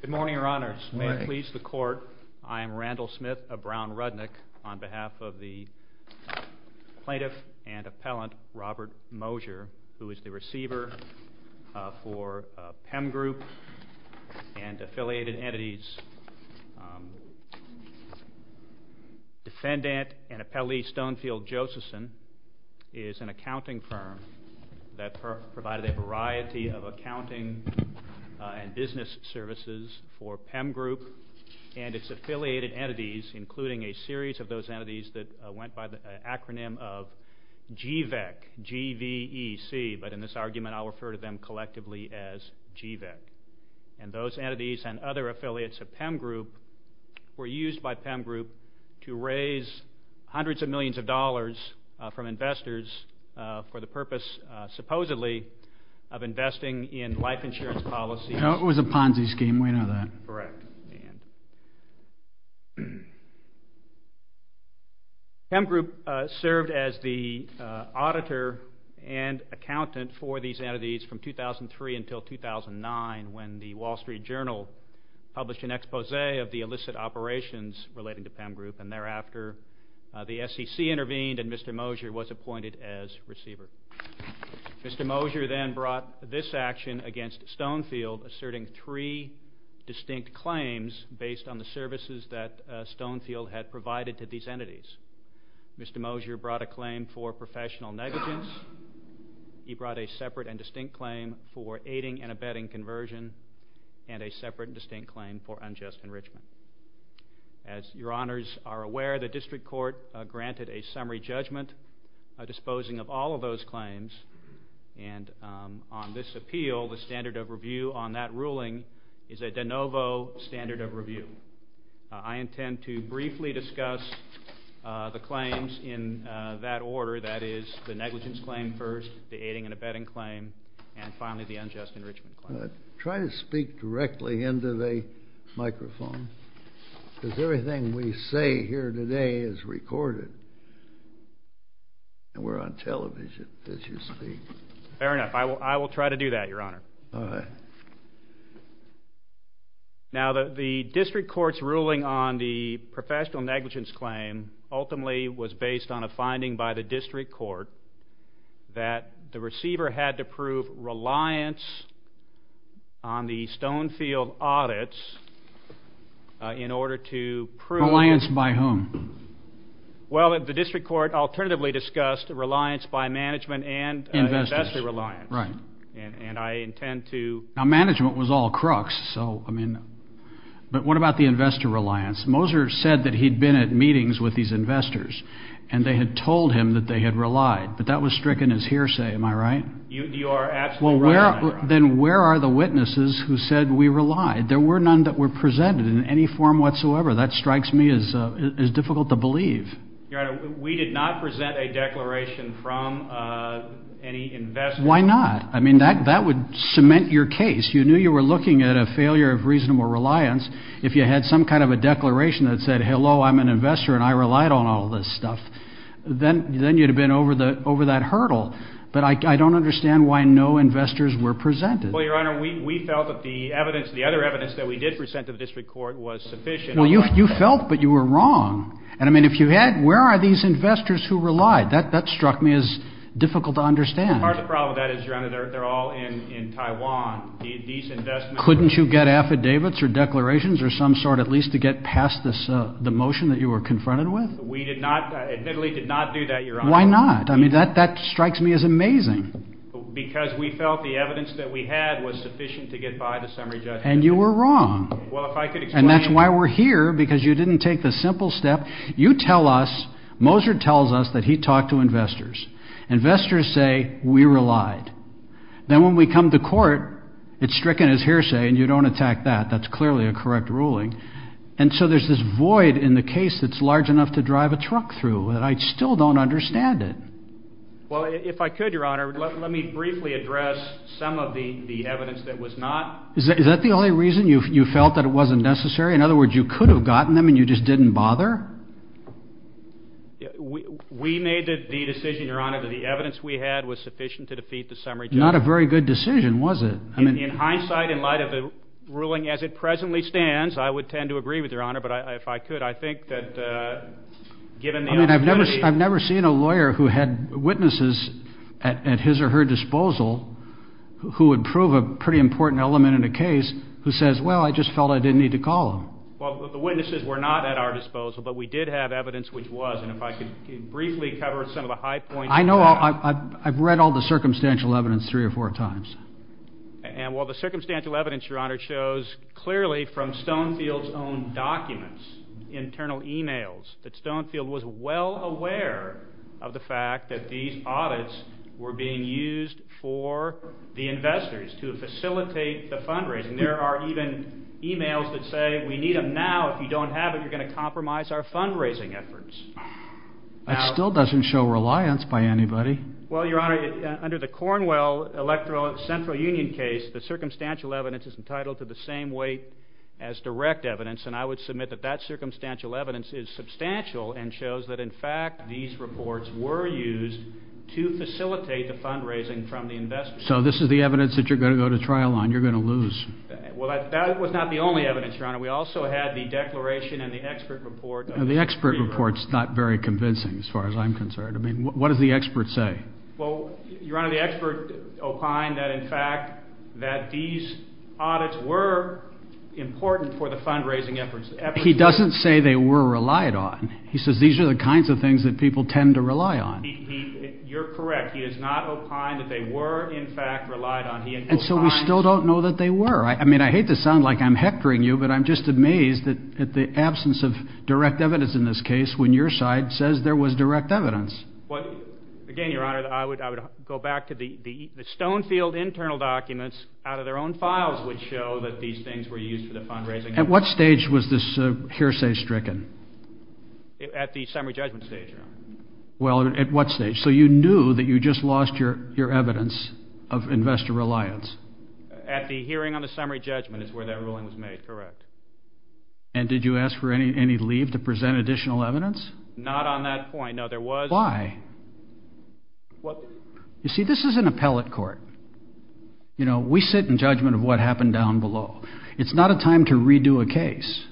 Good morning, Your Honors. May it please the Court, I am Randall Smith of Brown Rudnick, on behalf of the plaintiff and appellant Robert Moiser, who is the receiver for PEM Group and affiliated entities. Defendant and appellee Stonefield Josephson is an accounting firm that provided a variety of accounting and business services for PEM Group and its affiliated entities, including a series of those entities that went by the acronym of GVEC, G-V-E-C, but in this argument I'll refer to them collectively as GVEC. And those entities and other affiliates of PEM Group were used by PEM Group to raise hundreds of millions of dollars from investors for the purpose, supposedly, of investing in life insurance policies. It was a Ponzi scheme, we know that. Correct. PEM Group served as the auditor and accountant for these entities from 2003 until 2009 when the Wall Street Journal published an expose of the illicit operations relating to PEM Group and thereafter the SEC intervened and Mr. Moiser was appointed as receiver. Mr. Moiser then brought this action against Stonefield, asserting three distinct claims based on the services that Stonefield had provided to these entities. Mr. Moiser brought a claim for professional negligence, he brought a separate and distinct claim for aiding and abetting conversion, and a separate and distinct claim for unjust enrichment. As your honors are aware, the district court granted a summary judgment disposing of all of those claims and on this appeal the standard of review on that ruling is a de novo standard of review. I intend to briefly discuss the claims in that order, that is the negligence claim first, the aiding and abetting claim, and finally the unjust enrichment claim. Try to speak directly into the microphone, because everything we say here today is recorded and we're on television as you speak. Fair enough, I will try to do that, your honor. All right. Now the district court's ruling on the professional negligence claim ultimately was based on a finding by the district court that the receiver had to prove reliance on the Stonefield audits in order to prove... Reliance by whom? Well, the district court alternatively discussed reliance by management and investor reliance. Investors, right. And I intend to... Now management was all crooks, so, I mean, but what about the investor reliance? Moser said that he'd been at meetings with these investors and they had told him that they had relied, but that was stricken as hearsay, am I right? You are absolutely right. Well, then where are the witnesses who said we relied? There were none that were presented in any form whatsoever. That strikes me as difficult to believe. Your honor, we did not present a declaration from any investor. Why not? I mean, that would cement your case. You knew you were looking at a failure of reasonable reliance. If you had some kind of a declaration that said, hello, I'm an investor and I relied on all this stuff, then you'd have been over that hurdle. But I don't understand why no investors were presented. Well, your honor, we felt that the evidence, the other evidence that we did present to the district court was sufficient. Well, you felt, but you were wrong. And, I mean, if you had, where are these investors who relied? That struck me as difficult to understand. Part of the problem with that is, your honor, they're all in Taiwan. Couldn't you get affidavits or declarations or some sort at least to get past the motion that you were confronted with? We did not, admittedly did not do that, your honor. Why not? I mean, that strikes me as amazing. Because we felt the evidence that we had was sufficient to get by the summary judge. And you were wrong. Well, if I could explain. And that's why we're here, because you didn't take the simple step. You tell us, Moser tells us that he talked to investors. Investors say, we relied. Then when we come to court, it's stricken as hearsay and you don't attack that. That's clearly a correct ruling. And so there's this void in the case that's large enough to drive a truck through that I still don't understand it. Well, if I could, your honor, let me briefly address some of the evidence that was not. Is that the only reason you felt that it wasn't necessary? In other words, you could have gotten them and you just didn't bother? We made the decision, your honor, that the evidence we had was sufficient to defeat the summary judge. Not a very good decision, was it? In hindsight, in light of the ruling as it presently stands, I would tend to agree with your honor. But if I could, I think that given the opportunity. I mean, I've never seen a lawyer who had witnesses at his or her disposal who would prove a pretty important element in a case who says, well, I just felt I didn't need to call him. Well, the witnesses were not at our disposal, but we did have evidence which was. And if I could briefly cover some of the high points. I know. I've read all the circumstantial evidence three or four times. And while the circumstantial evidence, your honor, shows clearly from Stonefield's own documents, internal e-mails, that Stonefield was well aware of the fact that these audits were being used for the investors to facilitate the fundraising. There are even e-mails that say we need them now. If you don't have it, you're going to compromise our fundraising efforts. That still doesn't show reliance by anybody. Well, your honor, under the Cornwell Electoral Central Union case, the circumstantial evidence is entitled to the same weight as direct evidence. And I would submit that that circumstantial evidence is substantial and shows that, in fact, these reports were used to facilitate the fundraising from the investors. So this is the evidence that you're going to go to trial on. You're going to lose. Well, that was not the only evidence, your honor. We also had the declaration and the expert report. The expert report's not very convincing as far as I'm concerned. I mean, what does the expert say? Well, your honor, the expert opined that, in fact, that these audits were important for the fundraising efforts. He doesn't say they were relied on. He says these are the kinds of things that people tend to rely on. You're correct. He has not opined that they were, in fact, relied on. And so we still don't know that they were. I mean, I hate to sound like I'm hectoring you, but I'm just amazed at the absence of direct evidence in this case when your side says there was direct evidence. Again, your honor, I would go back to the Stonefield internal documents out of their own files which show that these things were used for the fundraising. At what stage was this hearsay stricken? At the summary judgment stage, your honor. Well, at what stage? So you knew that you just lost your evidence of investor reliance? At the hearing on the summary judgment is where that ruling was made, correct. And did you ask for any leave to present additional evidence? Not on that point. No, there was. Why? You see, this is an appellate court. You know, we sit in judgment of what happened down below. It's not a time to redo a case.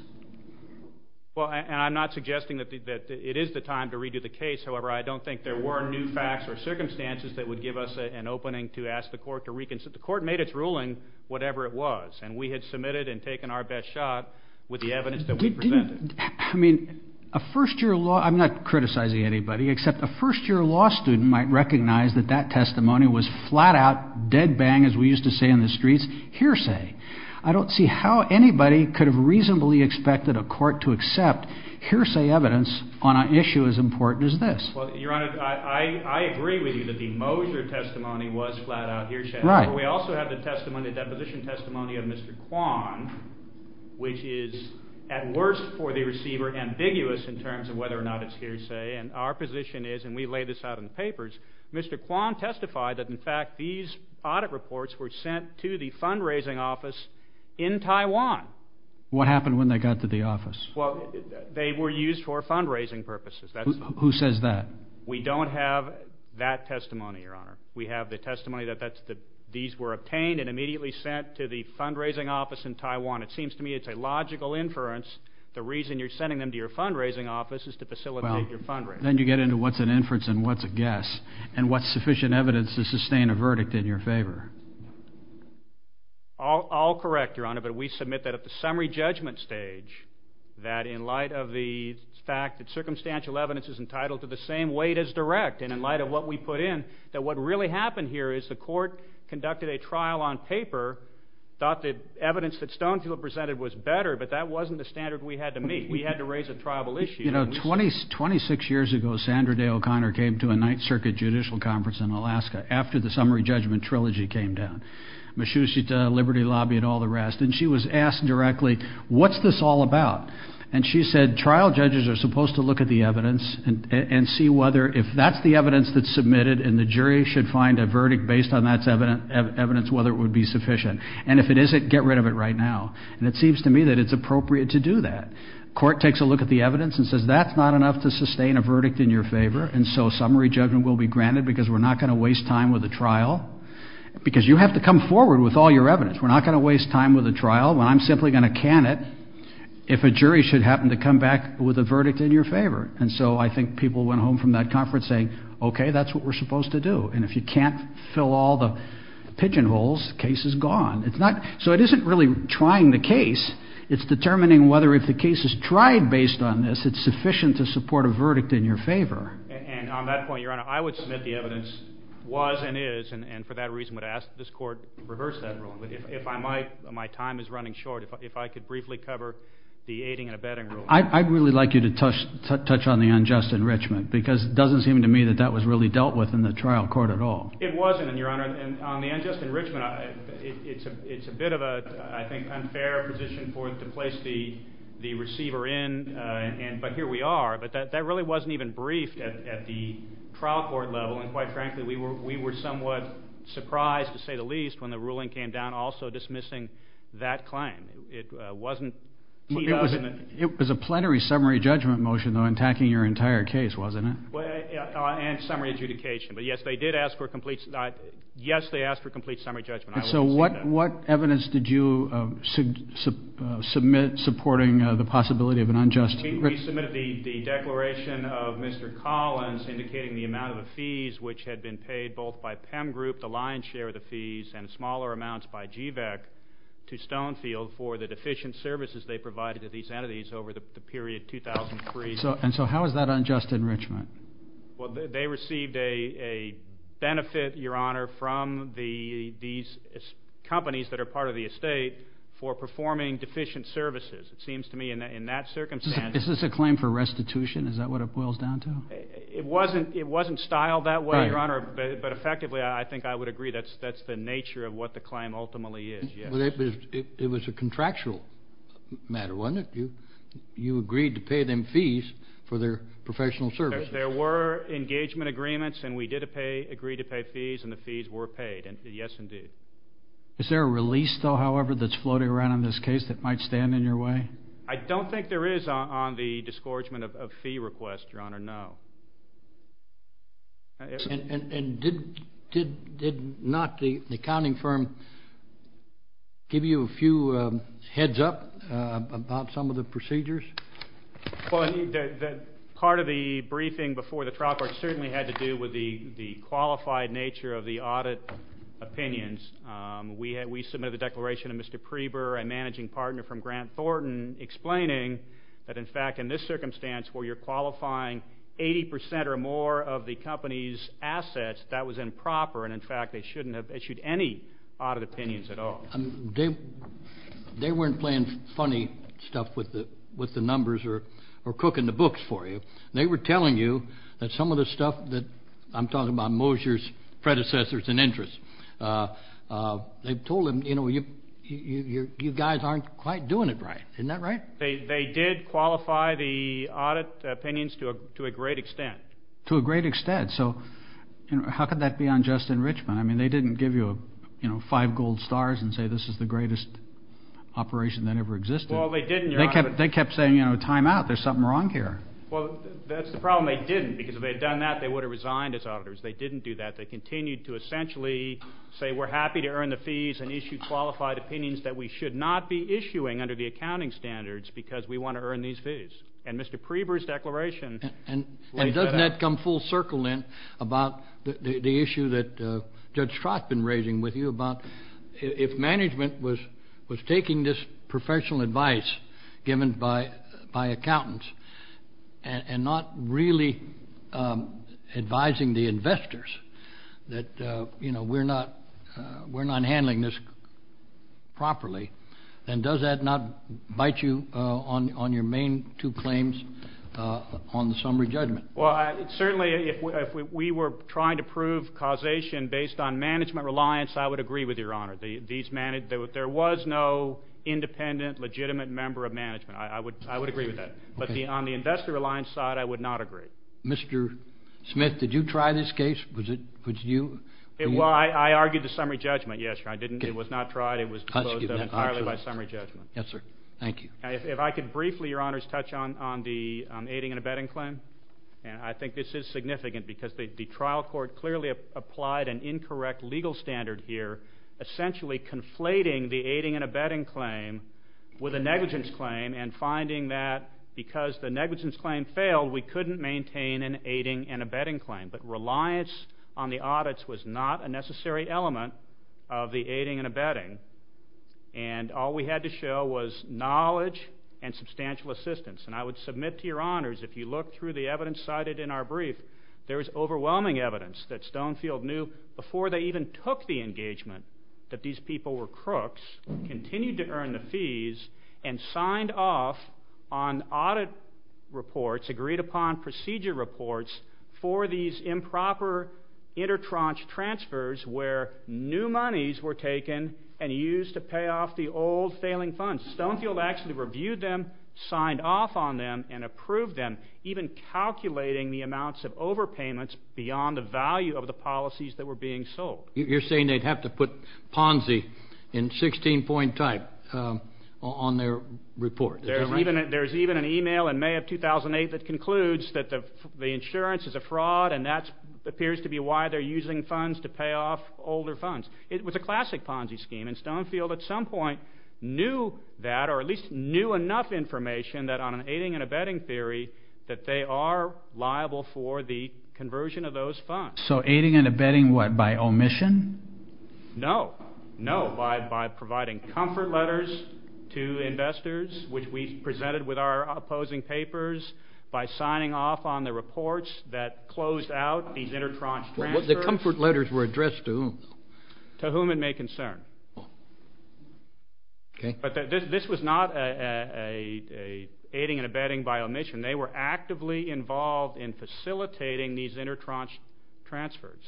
Well, and I'm not suggesting that it is the time to redo the case. However, I don't think there were new facts or circumstances that would give us an opening to ask the court to reconsider. The court made its ruling, whatever it was. And we had submitted and taken our best shot with the evidence that we presented. I mean, a first-year law, I'm not criticizing anybody, except a first-year law student might recognize that that testimony was flat out, dead bang, as we used to say in the streets, hearsay. I don't see how anybody could have reasonably expected a court to accept hearsay evidence on an issue as important as this. Well, Your Honor, I agree with you that the Mosier testimony was flat out hearsay. Right. We also have the testimony, the deposition testimony of Mr. Kwan, which is, at worst, for the receiver, ambiguous in terms of whether or not it's hearsay. And our position is, and we lay this out in the papers, Mr. Kwan testified that, in fact, these audit reports were sent to the fundraising office in Taiwan. What happened when they got to the office? Well, they were used for fundraising purposes. Who says that? We don't have that testimony, Your Honor. We have the testimony that these were obtained and immediately sent to the fundraising office in Taiwan. It seems to me it's a logical inference. The reason you're sending them to your fundraising office is to facilitate your fundraising. Then you get into what's an inference and what's a guess, and what's sufficient evidence to sustain a verdict in your favor. I'll correct, Your Honor, but we submit that at the summary judgment stage, that in light of the fact that circumstantial evidence is entitled to the same weight as direct, and in light of what we put in, that what really happened here is the court conducted a trial on paper, thought the evidence that Stonefield presented was better, but that wasn't the standard we had to meet. We had to raise a tribal issue. You know, 26 years ago, Sandra Day O'Connor came to a Ninth Circuit Judicial Conference in Alaska after the summary judgment trilogy came down, Mashoushita, Liberty Lobby, and all the rest, and she was asked directly, what's this all about? And she said, trial judges are supposed to look at the evidence and see whether, if that's the evidence that's submitted, and the jury should find a verdict based on that evidence, whether it would be sufficient. And if it isn't, get rid of it right now. And it seems to me that it's appropriate to do that. Court takes a look at the evidence and says, that's not enough to sustain a verdict in your favor, and so summary judgment will be granted because we're not going to waste time with a trial. Because you have to come forward with all your evidence. We're not going to waste time with a trial when I'm simply going to can it if a jury should happen to come back with a verdict in your favor. And so I think people went home from that conference saying, okay, that's what we're supposed to do. And if you can't fill all the pigeonholes, the case is gone. So it isn't really trying the case. It's determining whether if the case is tried based on this, it's sufficient to support a verdict in your favor. And on that point, Your Honor, I would submit the evidence was and is, and for that reason would ask that this Court reverse that ruling. But if I might, my time is running short. If I could briefly cover the aiding and abetting ruling. I'd really like you to touch on the unjust enrichment because it doesn't seem to me that that was really dealt with in the trial court at all. It wasn't, Your Honor. And on the unjust enrichment, it's a bit of a, I think, unfair position for it to place the receiver in. But here we are. But that really wasn't even briefed at the trial court level. And quite frankly, we were somewhat surprised, to say the least, when the ruling came down also dismissing that claim. It wasn't teed up. It was a plenary summary judgment motion, though, attacking your entire case, wasn't it? And summary adjudication. But, yes, they did ask for a complete, yes, they asked for a complete summary judgment. So what evidence did you submit supporting the possibility of an unjust enrichment? We submitted the declaration of Mr. Collins indicating the amount of the fees which had been paid both by PEM Group, the lion's share of the fees, and smaller amounts by GVAC to Stonefield for the deficient services they provided to these entities over the period 2003. And so how is that unjust enrichment? Well, they received a benefit, Your Honor, from these companies that are part of the estate for performing deficient services. It seems to me in that circumstance. Is this a claim for restitution? Is that what it boils down to? It wasn't styled that way, Your Honor, but effectively I think I would agree that's the nature of what the claim ultimately is, yes. It was a contractual matter, wasn't it? You agreed to pay them fees for their professional services. There were engagement agreements, and we did agree to pay fees, and the fees were paid, yes, indeed. Is there a release, though, however, that's floating around in this case that might stand in your way? I don't think there is on the disgorgement of fee requests, Your Honor, no. And did not the accounting firm give you a few heads up about some of the procedures? Well, part of the briefing before the trial court certainly had to do with the qualified nature of the audit opinions. We submitted the declaration to Mr. Preber, a managing partner from Grant Thornton, explaining that, in fact, in this circumstance where you're qualifying 80 percent or more of the company's assets, that was improper, and, in fact, they shouldn't have issued any audit opinions at all. They weren't playing funny stuff with the numbers or cooking the books for you. They were telling you that some of the stuff that I'm talking about, Mosier's predecessors and interests, they told them, you know, you guys aren't quite doing it right. Isn't that right? They did qualify the audit opinions to a great extent. To a great extent. So how could that be unjust in Richmond? I mean, they didn't give you, you know, five gold stars and say this is the greatest operation that ever existed. Well, they didn't, Your Honor. They kept saying, you know, time out, there's something wrong here. Well, that's the problem, they didn't, because if they had done that, they would have resigned as auditors. They didn't do that. They continued to essentially say we're happy to earn the fees and issue qualified opinions that we should not be issuing under the accounting standards because we want to earn these fees. And Mr. Preber's declaration laid that out. And doesn't that come full circle then about the issue that Judge Trott's been raising with you about if management was taking this professional advice given by accountants and not really advising the investors that, you know, we're not handling this properly, then does that not bite you on your main two claims on the summary judgment? Well, certainly if we were trying to prove causation based on management reliance, I would agree with you, Your Honor. There was no independent, legitimate member of management. I would agree with that. But on the investor reliance side, I would not agree. Mr. Smith, did you try this case? Well, I argued the summary judgment, yes, Your Honor. It was not tried. It was disclosed entirely by summary judgment. Yes, sir. Thank you. If I could briefly, Your Honors, touch on the aiding and abetting claim. I think this is significant because the trial court clearly applied an incorrect legal standard here, essentially conflating the aiding and abetting claim with a negligence claim and finding that because the negligence claim failed, we couldn't maintain an aiding and abetting claim. But reliance on the audits was not a necessary element of the aiding and abetting. And all we had to show was knowledge and substantial assistance. And I would submit to Your Honors, if you look through the evidence cited in our brief, there is overwhelming evidence that Stonefield knew before they even took the engagement that these people were crooks, continued to earn the fees, and signed off on audit reports, agreed-upon procedure reports, for these improper intertranche transfers where new monies were taken and used to pay off the old failing funds. Stonefield actually reviewed them, signed off on them, and approved them, even calculating the amounts of overpayments beyond the value of the policies that were being sold. You're saying they'd have to put Ponzi in 16-point type on their report. There's even an e-mail in May of 2008 that concludes that the insurance is a fraud and that appears to be why they're using funds to pay off older funds. It was a classic Ponzi scheme, and Stonefield at some point knew that, or at least knew enough information on an aiding and abetting theory that they are liable for the conversion of those funds. So aiding and abetting what, by omission? No, no, by providing comfort letters to investors, which we presented with our opposing papers, by signing off on the reports that closed out these intertranche transfers. The comfort letters were addressed to whom? To whom it may concern. But this was not aiding and abetting by omission. They were actively involved in facilitating these intertranche transfers.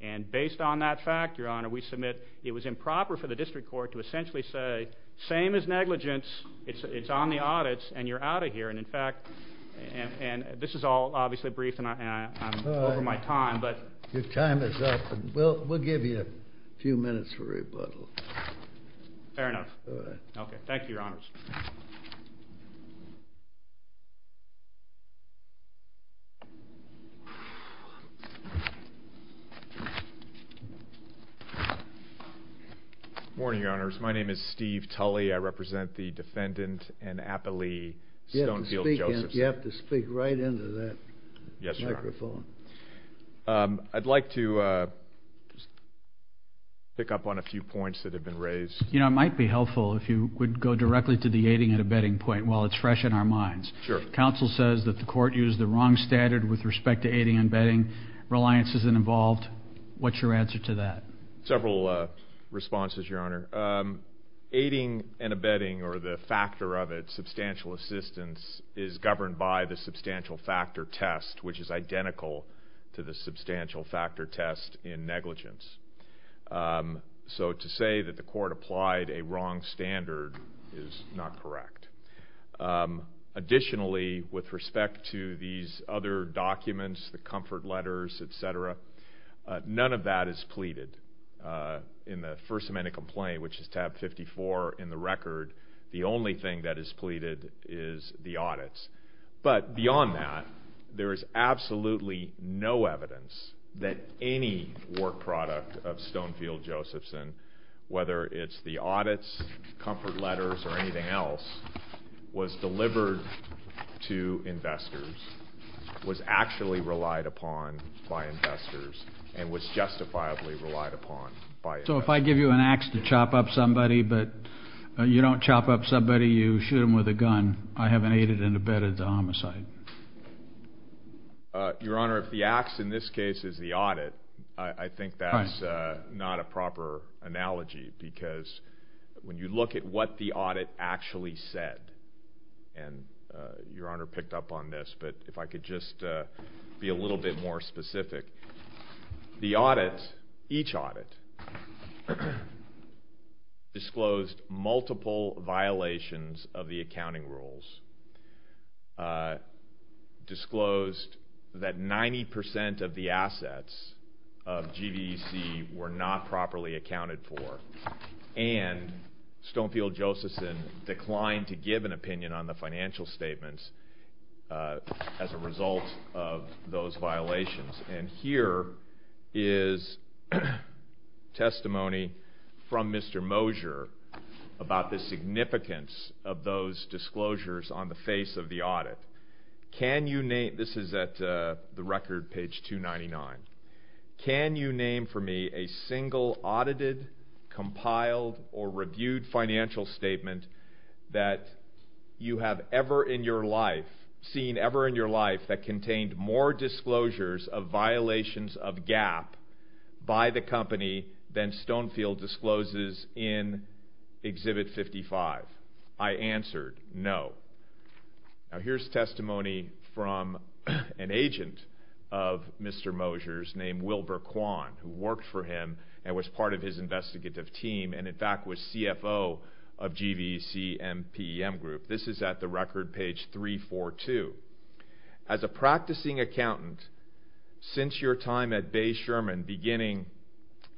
And based on that fact, Your Honor, we submit it was improper for the district court to essentially say, same as negligence, it's on the audits and you're out of here. And, in fact, this is all obviously brief and I'm over my time. Your time is up. We'll give you a few minutes for rebuttal. Fair enough. All right. Okay. Thank you, Your Honors. Good morning, Your Honors. My name is Steve Tully. I represent the defendant and appellee, Stonefield Josephson. You have to speak right into that microphone. I'd like to pick up on a few points that have been raised. You know, it might be helpful if you would go directly to the aiding and abetting point while it's fresh in our minds. Sure. Counsel says that the court used the wrong standard with respect to aiding and abetting. Reliance isn't involved. What's your answer to that? Several responses, Your Honor. Aiding and abetting, or the factor of it, substantial assistance, is governed by the substantial factor test, which is identical to the substantial factor test in negligence. So to say that the court applied a wrong standard is not correct. Additionally, with respect to these other documents, the comfort letters, et cetera, none of that is pleaded in the First Amendment complaint, which is tab 54 in the record. The only thing that is pleaded is the audits. But beyond that, there is absolutely no evidence that any work product of Stonefield Josephson, whether it's the audits, comfort letters, or anything else, was delivered to investors, was actually relied upon by investors, and was justifiably relied upon by investors. So if I give you an ax to chop up somebody, but you don't chop up somebody, you shoot them with a gun, I haven't aided and abetted the homicide. Your Honor, if the ax in this case is the audit, I think that's not a proper analogy, because when you look at what the audit actually said, and Your Honor picked up on this, but if I could just be a little bit more specific, the audit, each audit, disclosed multiple violations of the accounting rules, disclosed that 90% of the assets of GVC were not properly accounted for, and Stonefield Josephson declined to give an opinion on the financial statements as a result of those violations. And here is testimony from Mr. Mosier about the significance of those disclosures on the face of the audit. This is at the record, page 299. Can you name for me a single audited, compiled, or reviewed financial statement that you have ever seen in your life that contained more disclosures of violations of GAAP by the company than Stonefield discloses in Exhibit 55? I answered no. Now here's testimony from an agent of Mr. Mosier's named Wilbur Kwan, who worked for him and was part of his investigative team, and in fact was CFO of GVC and PEM Group. This is at the record, page 342. As a practicing accountant, since your time at Bay Sherman beginning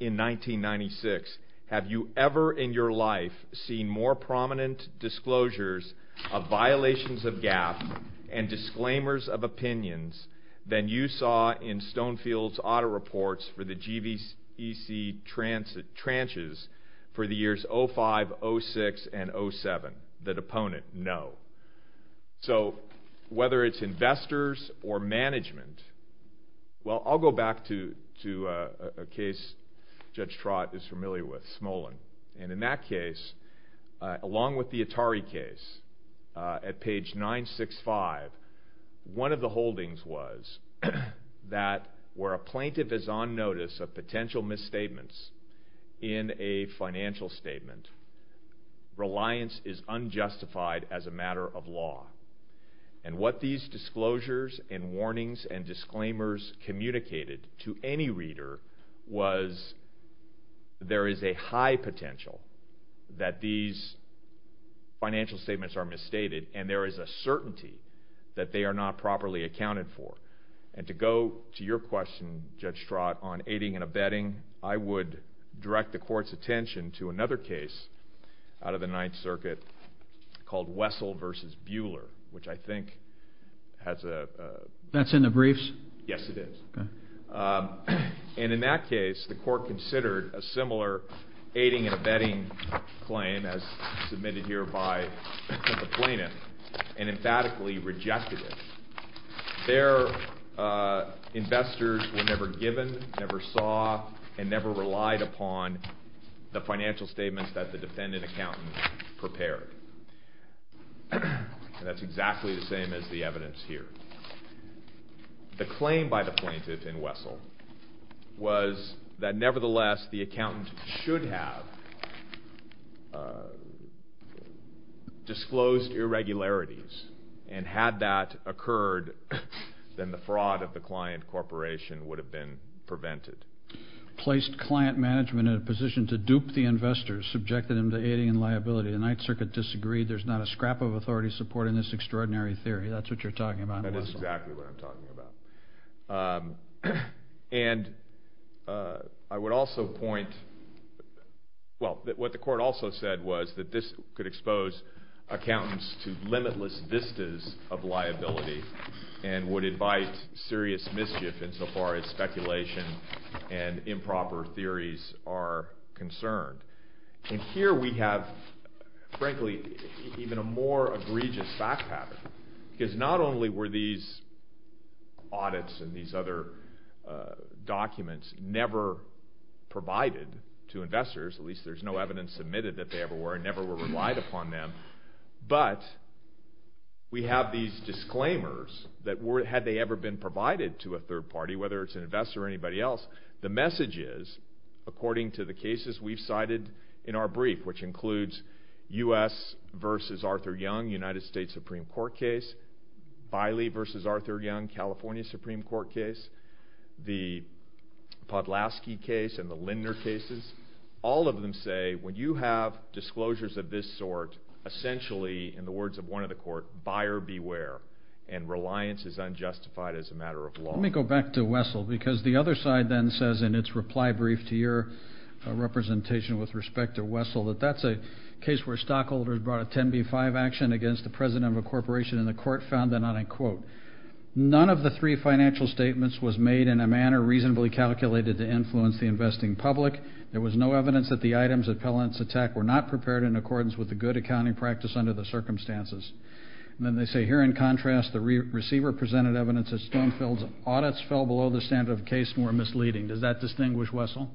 in 1996, have you ever in your life seen more prominent disclosures of violations of GAAP and disclaimers of opinions than you saw in Stonefield's audit reports for the GVC tranches for the years 05, 06, and 07? The deponent, no. So whether it's investors or management, well, I'll go back to a case Judge Trott is familiar with, Smolin. And in that case, along with the Atari case, at page 965, one of the holdings was that where a plaintiff is on notice of potential misstatements in a financial statement, reliance is unjustified as a matter of law. And what these disclosures and warnings and disclaimers communicated to any reader was there is a high potential that these financial statements are misstated and there is a certainty that they are not properly accounted for. And to go to your question, Judge Trott, on aiding and abetting, I would direct the Court's attention to another case out of the Ninth Circuit called Wessel v. Bueller, which I think has a... That's in the briefs? Yes, it is. And in that case, the Court considered a similar aiding and abetting claim as submitted here by the plaintiff and emphatically rejected it. Their investors were never given, never saw, and never relied upon the financial statements that the defendant accountant prepared. That's exactly the same as the evidence here. The claim by the plaintiff in Wessel was that nevertheless, the accountant should have disclosed irregularities and had that occurred, then the fraud of the client corporation would have been prevented. Placed client management in a position to dupe the investors, subjected them to aiding and liability. The Ninth Circuit disagreed. There's not a scrap of authority supporting this extraordinary theory. That's what you're talking about in Wessel. That is exactly what I'm talking about. And I would also point... Well, what the Court also said was that this could expose accountants to limitless vistas of liability and would invite serious mischief insofar as speculation and improper theories are concerned. And here we have, frankly, even a more egregious fact pattern. Because not only were these audits and these other documents never provided to investors, at least there's no evidence admitted that they ever were, and never were relied upon them, but we have these disclaimers that had they ever been provided to a third party, whether it's an investor or anybody else, the message is, according to the cases we've cited in our brief, which includes U.S. v. Arthur Young, United States Supreme Court case, Biley v. Arthur Young, California Supreme Court case, the Podlaski case and the Lindner cases, all of them say, when you have disclosures of this sort, essentially, in the words of one of the Court, buyer beware and reliance is unjustified as a matter of law. Let me go back to Wessel, because the other side then says in its reply brief to your representation with respect to Wessel, that that's a case where stockholders brought a 10b-5 action against the president of a corporation, and the Court found that, and I quote, none of the three financial statements was made in a manner reasonably calculated to influence the investing public. There was no evidence that the items of Pellant's attack were not prepared in accordance with the good accounting practice under the circumstances. And then they say, here in contrast, the receiver presented evidence that Stonefield's audits fell below the standard of case and were misleading. Does that distinguish Wessel?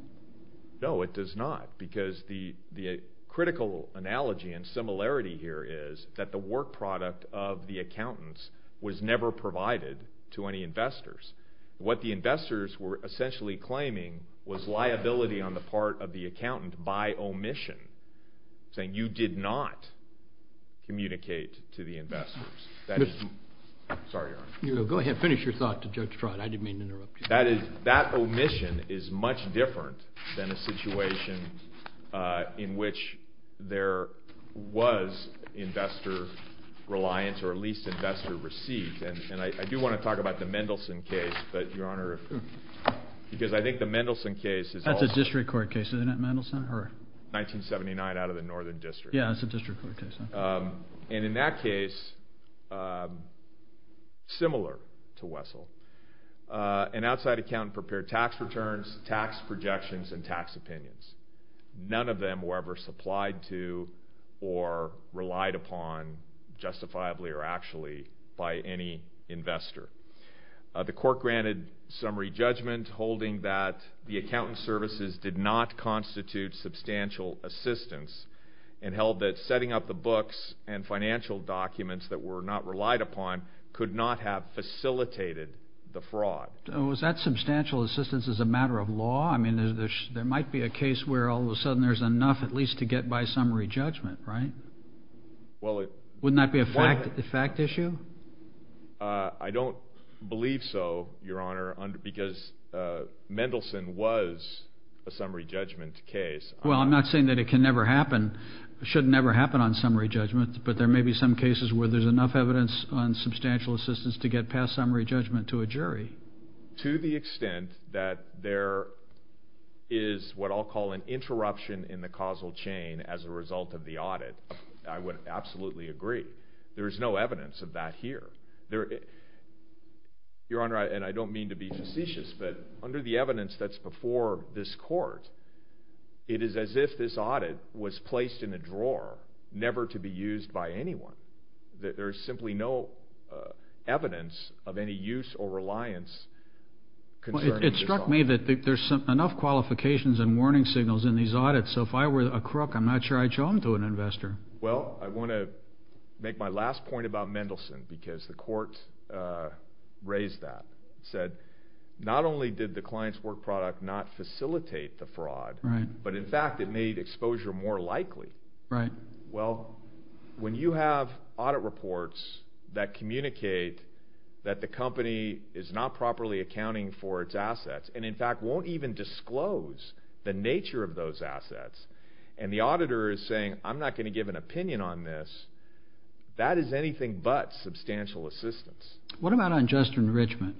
No, it does not, because the critical analogy and similarity here is that the work product of the accountants was never provided to any investors. What the investors were essentially claiming was liability on the part of the accountant by omission, saying you did not communicate to the investors. Sorry, Your Honor. Go ahead, finish your thought to Judge Trott. I didn't mean to interrupt you. That omission is much different than a situation in which there was investor reliance or at least investor receipt. And I do want to talk about the Mendelsohn case, but, Your Honor, because I think the Mendelsohn case is also That's a district court case, isn't it, Mendelsohn? 1979 out of the Northern District. Yeah, that's a district court case. And in that case, similar to Wessel, an outside accountant prepared tax returns, tax projections, and tax opinions. None of them were ever supplied to or relied upon justifiably or actually by any investor. The court granted summary judgment holding that the accountant's services did not constitute substantial assistance and held that setting up the books and financial documents that were not relied upon could not have facilitated the fraud. Was that substantial assistance as a matter of law? I mean, there might be a case where all of a sudden there's enough at least to get by summary judgment, right? Wouldn't that be a fact issue? I don't believe so, Your Honor, because Mendelsohn was a summary judgment case. Well, I'm not saying that it can never happen. It should never happen on summary judgment, but there may be some cases where there's enough evidence on substantial assistance to get past summary judgment to a jury. To the extent that there is what I'll call an interruption in the causal chain as a result of the audit, I would absolutely agree. There is no evidence of that here. Your Honor, and I don't mean to be facetious, but under the evidence that's before this court, it is as if this audit was placed in a drawer never to be used by anyone. There is simply no evidence of any use or reliance. It struck me that there's enough qualifications and warning signals in these audits, so if I were a crook, I'm not sure I'd show them to an investor. Well, I want to make my last point about Mendelsohn because the court raised that. It said not only did the client's work product not facilitate the fraud, but in fact it made exposure more likely. Well, when you have audit reports that communicate that the company is not properly accounting for its assets and in fact won't even disclose the nature of those assets, and the auditor is saying, I'm not going to give an opinion on this, that is anything but substantial assistance. What about unjust enrichment?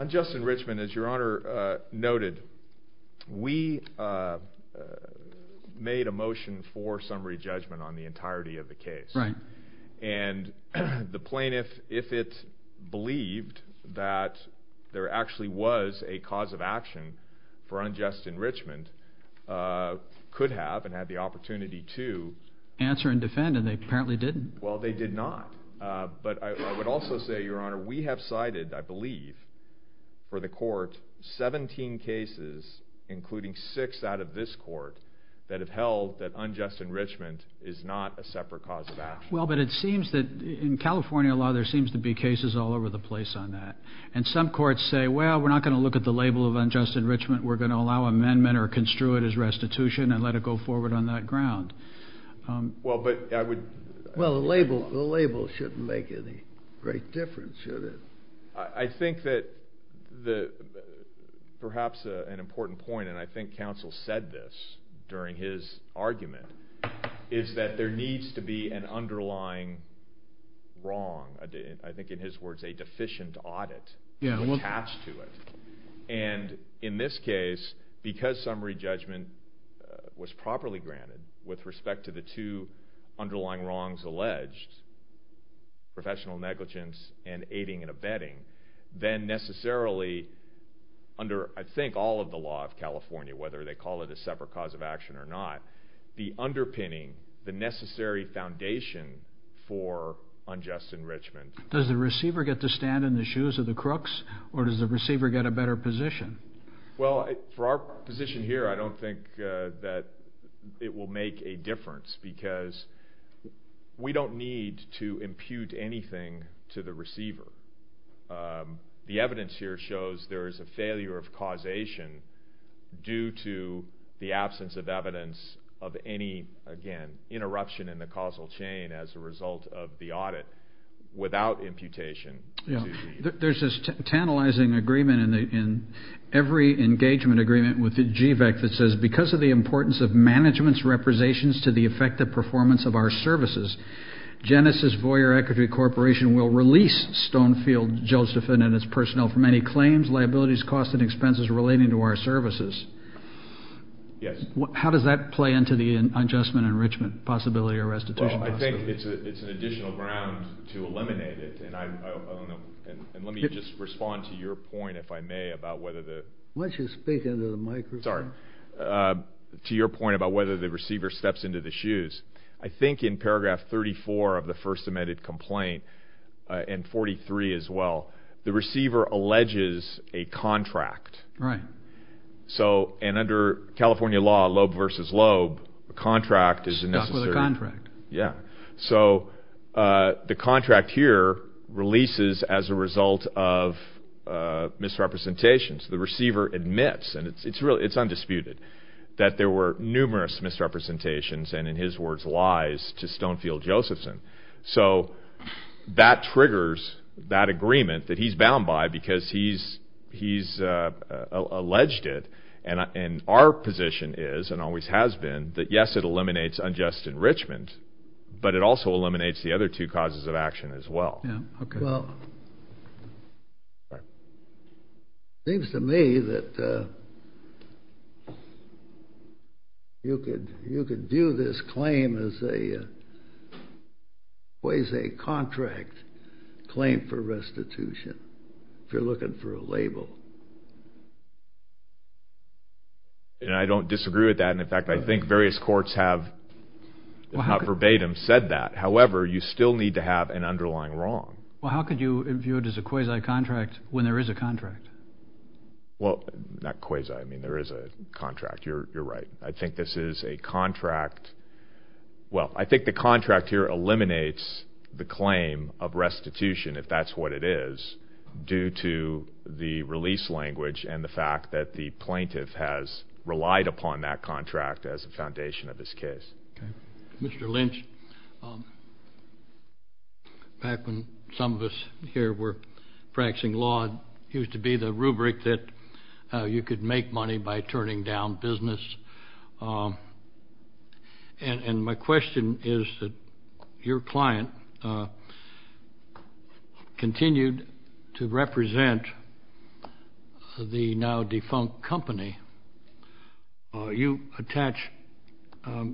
Unjust enrichment, as Your Honor noted, we made a motion for summary judgment on the entirety of the case. Right. And the plaintiff, if it believed that there actually was a cause of action for unjust enrichment, could have and had the opportunity to... Answer and defend, and they apparently didn't. Well, they did not, but I would also say, Your Honor, we have cited, I believe, for the court, 17 cases, including six out of this court, that have held that unjust enrichment is not a separate cause of action. Well, but it seems that in California law there seems to be cases all over the place on that, and some courts say, well, we're not going to look at the label of unjust enrichment, we're going to allow amendment or construe it as restitution and let it go forward on that ground. Well, but I would... Well, the label shouldn't make any great difference, should it? I think that perhaps an important point, and I think counsel said this during his argument, is that there needs to be an underlying wrong, I think in his words, a deficient audit attached to it. And in this case, because summary judgment was properly granted with respect to the two underlying wrongs alleged, professional negligence and aiding and abetting, then necessarily under, I think, all of the law of California, whether they call it a separate cause of action or not, the underpinning, the necessary foundation for unjust enrichment... Does the receiver get to stand in the shoes of the crooks, or does the receiver get a better position? Well, for our position here, I don't think that it will make a difference because we don't need to impute anything to the receiver. The evidence here shows there is a failure of causation due to the absence of evidence of any, again, interruption in the causal chain as a result of the audit without imputation. There's this tantalizing agreement in every engagement agreement with the GVAC that says because of the importance of management's representations to the effective performance of our services, Genesis Voyer Equity Corporation will release Stonefield Josephine and its personnel from any claims, liabilities, costs, and expenses relating to our services. How does that play into the unjust enrichment possibility or restitution possibility? I think it's an additional ground to eliminate it, and let me just respond to your point, if I may, about whether the... Why don't you speak into the microphone? Sorry. To your point about whether the receiver steps into the shoes, I think in paragraph 34 of the first amended complaint, and 43 as well, the receiver alleges a contract. Right. So, and under California law, lobe versus lobe, a contract is a necessary... Stuck with a contract. Yeah. So the contract here releases as a result of misrepresentations. The receiver admits, and it's undisputed, that there were numerous misrepresentations, and in his words, lies, to Stonefield Josephine. So that triggers that agreement that he's bound by because he's alleged it, and our position is, and always has been, that, yes, it eliminates unjust enrichment, but it also eliminates the other two causes of action as well. Yeah. Okay. Well, it seems to me that you could view this claim as a... Quasi-contract claim for restitution, if you're looking for a label. And I don't disagree with that, and, in fact, I think various courts have, if not verbatim, said that. However, you still need to have an underlying wrong. Well, how could you view it as a quasi-contract when there is a contract? Well, not quasi. I mean, there is a contract. You're right. I think this is a contract. Well, I think the contract here eliminates the claim of restitution, if that's what it is, due to the release language and the fact that the plaintiff has relied upon that contract as a foundation of this case. Okay. Mr. Lynch, back when some of us here were practicing law, it used to be the rubric that you could make money by turning down business. And my question is that your client continued to represent the now defunct company. You attach a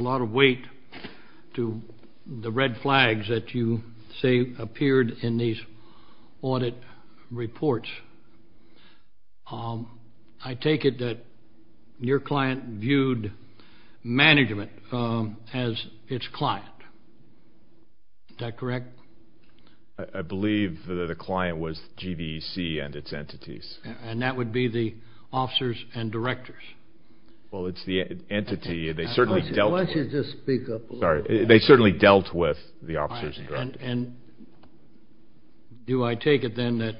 lot of weight to the red flags that you say appeared in these audit reports. I take it that your client viewed management as its client. Is that correct? I believe that the client was GVC and its entities. And that would be the officers and directors. Well, it's the entity. Why don't you just speak up a little bit? Sorry. They certainly dealt with the officers and directors. And do I take it then that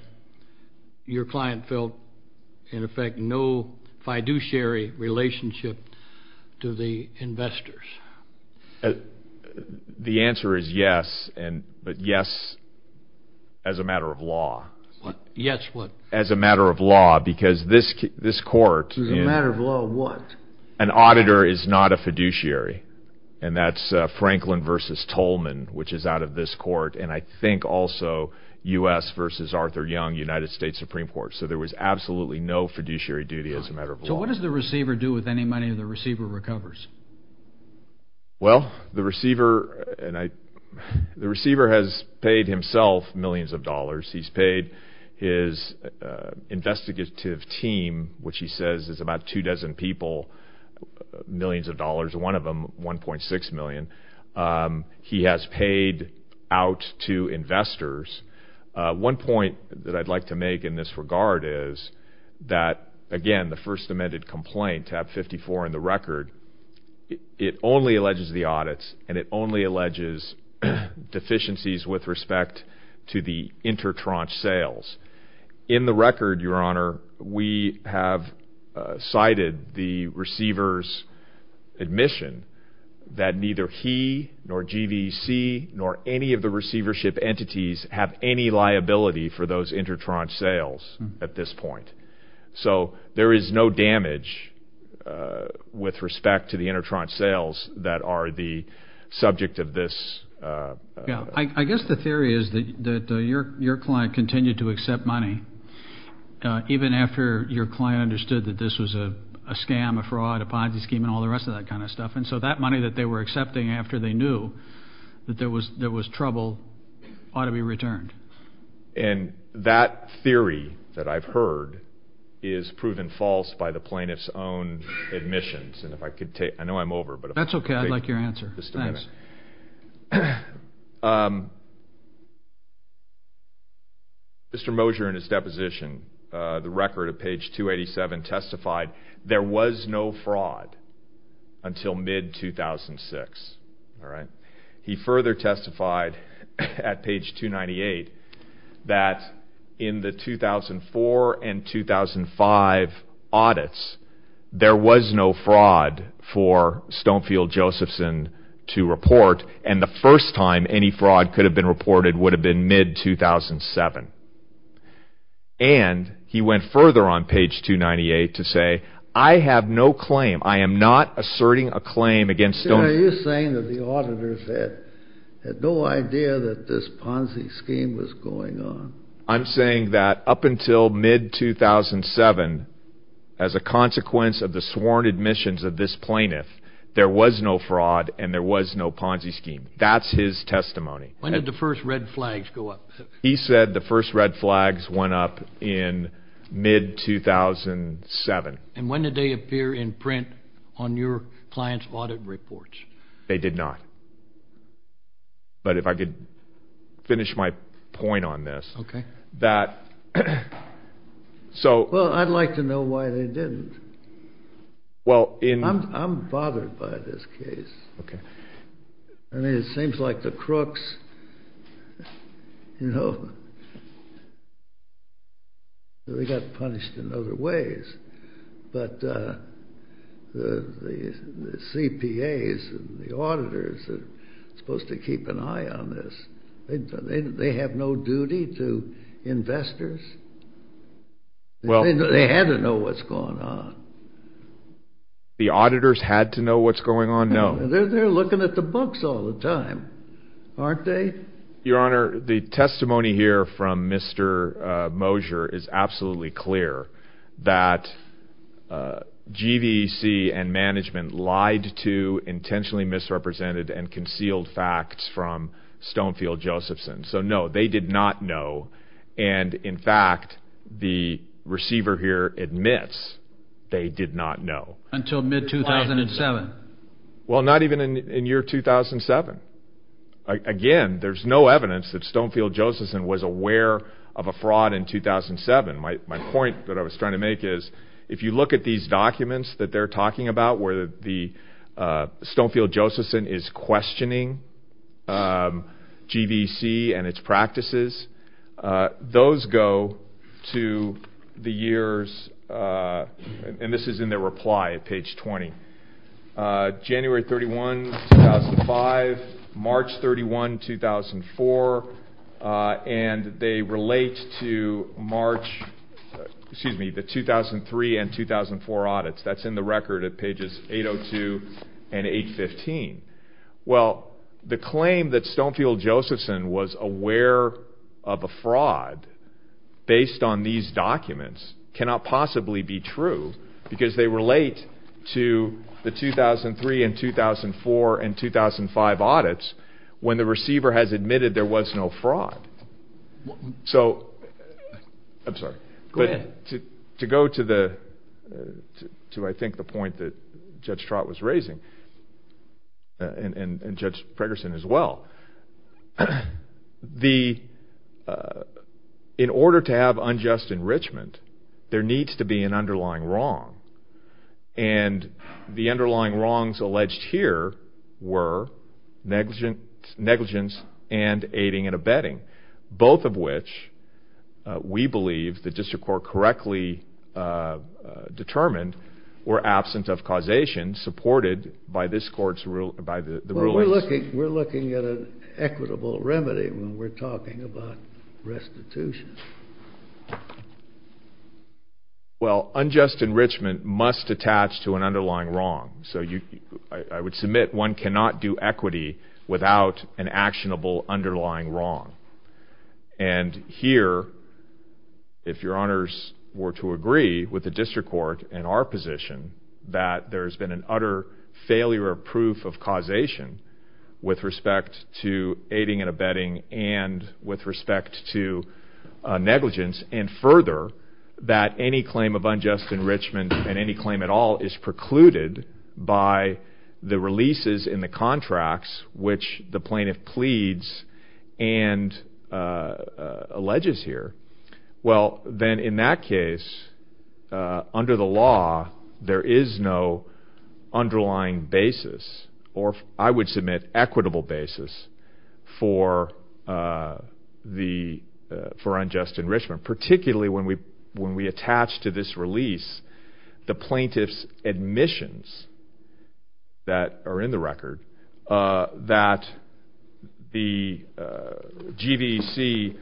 your client felt, in effect, no fiduciary relationship to the investors? The answer is yes, but yes as a matter of law. Yes what? As a matter of law, because this court... As a matter of law, what? An auditor is not a fiduciary. And that's Franklin v. Tolman, which is out of this court, and I think also U.S. v. Arthur Young, United States Supreme Court. So there was absolutely no fiduciary duty as a matter of law. So what does the receiver do with any money the receiver recovers? Well, the receiver has paid himself millions of dollars. He's paid his investigative team, which he says is about two dozen people, millions of dollars, one of them $1.6 million. He has paid out to investors. One point that I'd like to make in this regard is that, again, the First Amendment complaint, tab 54 in the record, it only alleges the audits and it only alleges deficiencies with respect to the inter-traunch sales. In the record, Your Honor, we have cited the receiver's admission that neither he nor GVC nor any of the receivership entities have any liability for those inter-traunch sales at this point. So there is no damage with respect to the inter-traunch sales that are the subject of this. I guess the theory is that your client continued to accept money even after your client understood that this was a scam, a fraud, a Ponzi scheme, and all the rest of that kind of stuff. And so that money that they were accepting after they knew that there was trouble ought to be returned. And that theory that I've heard is proven false by the plaintiff's own admissions. And if I could take – I know I'm over, but if I could take – That's okay. I'd like your answer. Thanks. Mr. Mosher, in his deposition, the record at page 287 testified there was no fraud until mid-2006. He further testified at page 298 that in the 2004 and 2005 audits, there was no fraud for Stonefield-Josephson to report. And the first time any fraud could have been reported would have been mid-2007. And he went further on page 298 to say, I have no claim. I am not asserting a claim against Stonefield-Josephson. Are you saying that the auditors had no idea that this Ponzi scheme was going on? I'm saying that up until mid-2007, as a consequence of the sworn admissions of this plaintiff, there was no fraud and there was no Ponzi scheme. That's his testimony. When did the first red flags go up? He said the first red flags went up in mid-2007. And when did they appear in print on your client's audit reports? They did not. But if I could finish my point on this. Well, I'd like to know why they didn't. I'm bothered by this case. I mean, it seems like the crooks, you know, they got punished in other ways. But the CPAs and the auditors are supposed to keep an eye on this. They have no duty to investors. They had to know what's going on. The auditors had to know what's going on? No. They're looking at the books all the time, aren't they? Your Honor, the testimony here from Mr. Mosher is absolutely clear that GVC and management lied to intentionally misrepresented and concealed facts from Stonefield-Josephson. So, no, they did not know. And, in fact, the receiver here admits they did not know. Until mid-2007? Well, not even in year 2007. Again, there's no evidence that Stonefield-Josephson was aware of a fraud in 2007. My point that I was trying to make is if you look at these documents that they're talking about where the Stonefield-Josephson is questioning GVC and its practices, those go to the years, and this is in their reply at page 20, January 31, 2005, March 31, 2004. And they relate to March, excuse me, the 2003 and 2004 audits. That's in the record at pages 802 and 815. Well, the claim that Stonefield-Josephson was aware of a fraud based on these documents cannot possibly be true because they relate to the 2003 and 2004 and 2005 audits when the receiver has admitted there was no fraud. So, I'm sorry. Go ahead. To go to, I think, the point that Judge Trott was raising, and Judge Pregerson as well, in order to have unjust enrichment, there needs to be an underlying wrong. And the underlying wrongs alleged here were negligence and aiding and abetting, both of which we believe the district court correctly determined were absent of causation supported by this court's ruling. Well, we're looking at an equitable remedy when we're talking about restitution. Well, unjust enrichment must attach to an underlying wrong. So, I would submit one cannot do equity without an actionable underlying wrong. And here, if your honors were to agree with the district court and our position that there's been an utter failure of proof of causation with respect to aiding and abetting and with respect to negligence, and further, that any claim of unjust enrichment and any claim at all is precluded by the releases in the contracts which the plaintiff pleads and alleges here, well, then in that case, under the law, there is no underlying basis, or I would submit equitable basis, for unjust enrichment, particularly when we attach to this release the plaintiff's admissions that are in the record that the GVC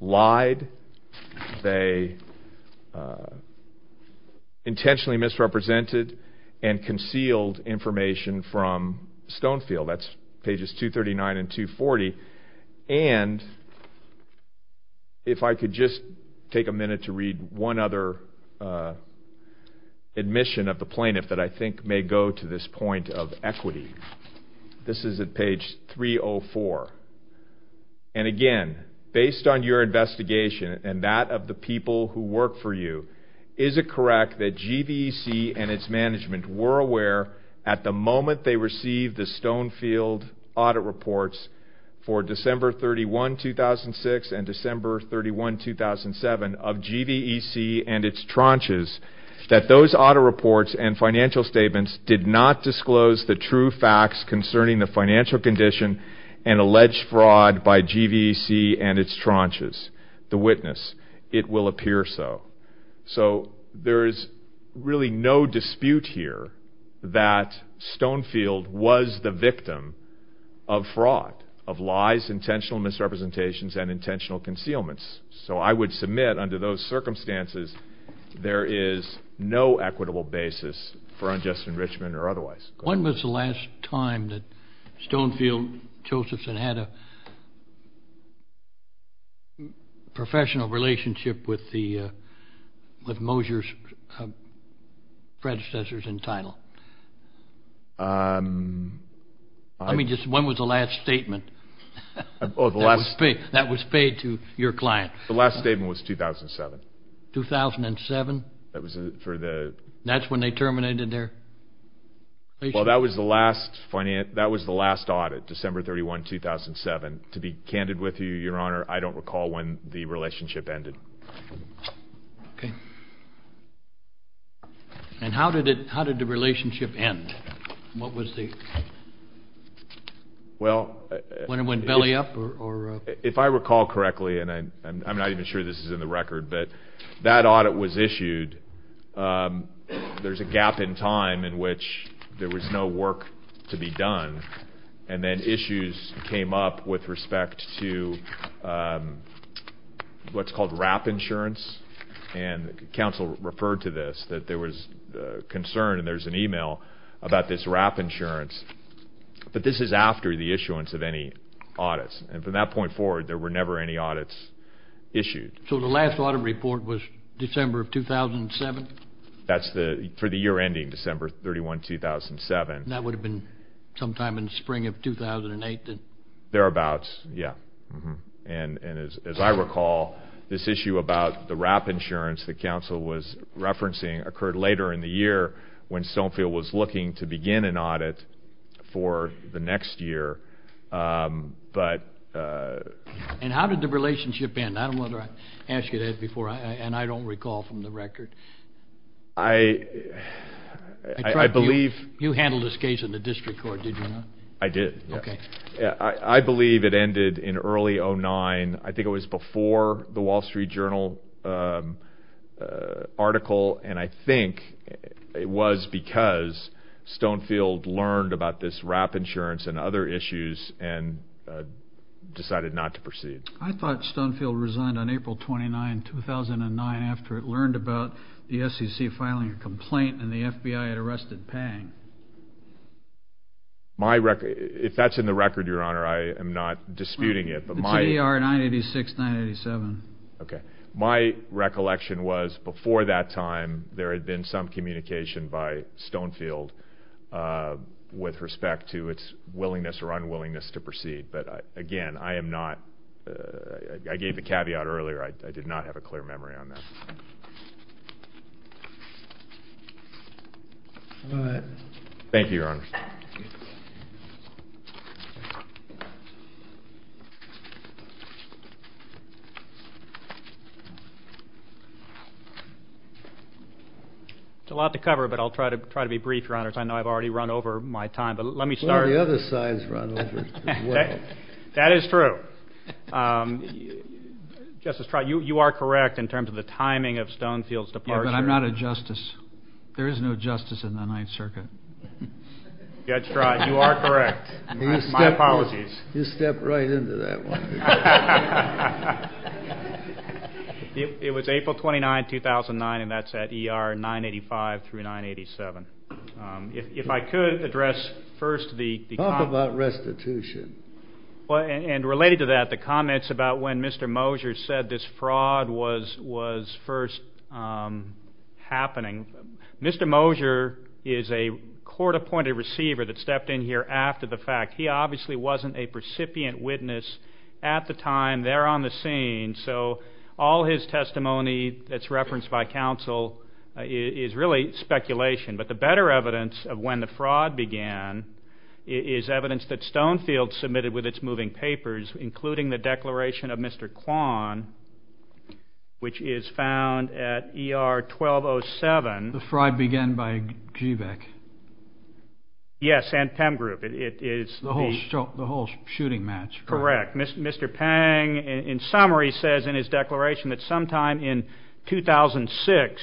lied, they intentionally misrepresented and concealed information from Stonefield, that's pages 239 and 240. And if I could just take a minute to read one other admission of the plaintiff that I think may go to this point of equity. This is at page 304. And again, based on your investigation and that of the people who work for you, is it correct that GVC and its management were aware at the moment they received the Stonefield audit reports for December 31, 2006 and December 31, 2007 of GVC and its tranches that those audit reports and financial statements did not disclose the true facts concerning the financial condition and alleged fraud by GVC and its tranches? It will appear so. So there is really no dispute here that Stonefield was the victim of fraud, of lies, intentional misrepresentations, and intentional concealments. So I would submit under those circumstances there is no equitable basis for unjust enrichment or otherwise. When was the last time that Stonefield, Josephson, had a professional relationship with Mosier's predecessors in title? I mean, just when was the last statement that was paid to your client? The last statement was 2007. 2007? That's when they terminated their? Well, that was the last audit, December 31, 2007. To be candid with you, Your Honor, I don't recall when the relationship ended. Okay. And how did the relationship end? When it went belly up or? If I recall correctly, and I'm not even sure this is in the record, but that audit was issued. There's a gap in time in which there was no work to be done, and then issues came up with respect to what's called wrap insurance, and counsel referred to this, that there was concern, and there's an email about this wrap insurance. But this is after the issuance of any audits, and from that point forward there were never any audits issued. So the last audit report was December of 2007? That's for the year ending, December 31, 2007. That would have been sometime in the spring of 2008? Thereabouts, yeah. And as I recall, this issue about the wrap insurance that counsel was referencing occurred later in the year when Stonefield was looking to begin an audit for the next year. And how did the relationship end? I don't know whether I asked you that before, and I don't recall from the record. I believe. You handled this case in the district court, did you not? I did. I believe it ended in early 2009. I think it was before the Wall Street Journal article, and I think it was because Stonefield learned about this wrap insurance and other issues and decided not to proceed. I thought Stonefield resigned on April 29, 2009, after it learned about the SEC filing a complaint and the FBI had arrested Pang. If that's in the record, Your Honor, I am not disputing it. It's in ER 986-987. Okay. My recollection was before that time there had been some communication by Stonefield with respect to its willingness or unwillingness to proceed. But, again, I am not. I gave the caveat earlier. I did not have a clear memory on that. All right. Thank you, Your Honor. It's a lot to cover, but I'll try to be brief, Your Honor. I know I've already run over my time, but let me start. Well, the other side's run over as well. That is true. Justice Stroud, you are correct in terms of the timing of Stonefield's departure. Yeah, but I'm not a justice. There is no justice in the Ninth Circuit. Judge Stroud, you are correct. My apologies. You stepped right into that one. It was April 29, 2009, and that's at ER 985-987. If I could address first the comments. Talk about restitution. And related to that, the comments about when Mr. Mosher said this fraud was first happening. Mr. Mosher is a court-appointed receiver that stepped in here after the fact. He obviously wasn't a recipient witness at the time. They're on the scene. So all his testimony that's referenced by counsel is really speculation. But the better evidence of when the fraud began is evidence that Stonefield submitted with its moving papers, including the declaration of Mr. Kwan, which is found at ER 1207. The fraud began by GBEC. Yes, and PEM Group. The whole shooting match. Correct. Mr. Pang, in summary, says in his declaration that sometime in 2006,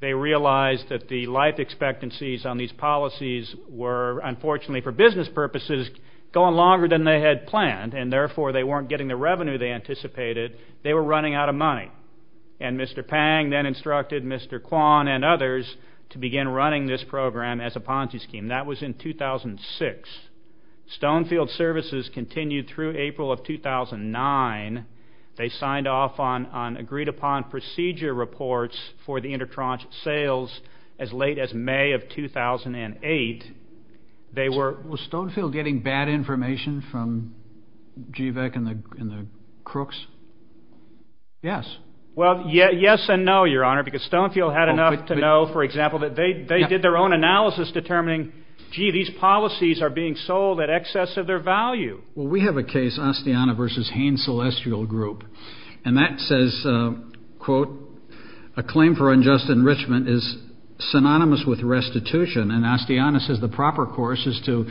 they realized that the life expectancies on these policies were, unfortunately for business purposes, going longer than they had planned, and therefore they weren't getting the revenue they anticipated. They were running out of money. And Mr. Pang then instructed Mr. Kwan and others to begin running this program as a Ponzi scheme. That was in 2006. Stonefield services continued through April of 2009. They signed off on agreed-upon procedure reports for the intertranche sales as late as May of 2008. Was Stonefield getting bad information from GBEC and the crooks? Yes. Well, yes and no, Your Honor, because Stonefield had enough to know, for example, that they did their own analysis determining, gee, these policies are being sold at excess of their value. Well, we have a case, Astiana v. Haines Celestial Group, and that says, quote, a claim for unjust enrichment is synonymous with restitution, and Astiana says the proper course is to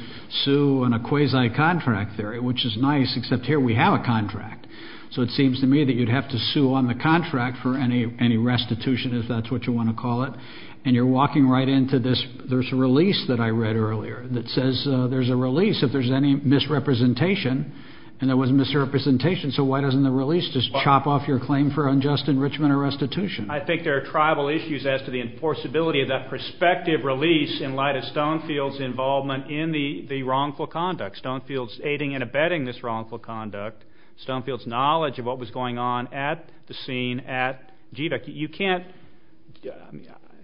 sue on a quasi-contract theory, which is nice, except here we have a contract. So it seems to me that you'd have to sue on the contract for any restitution, if that's what you want to call it, and you're walking right into this. There's a release that I read earlier that says there's a release if there's any misrepresentation, and there was misrepresentation, so why doesn't the release just chop off your claim for unjust enrichment or restitution? I think there are tribal issues as to the enforceability of that prospective release in light of Stonefield's involvement in the wrongful conduct, Stonefield's aiding and abetting this wrongful conduct, Stonefield's knowledge of what was going on at the scene at GBEC. You can't,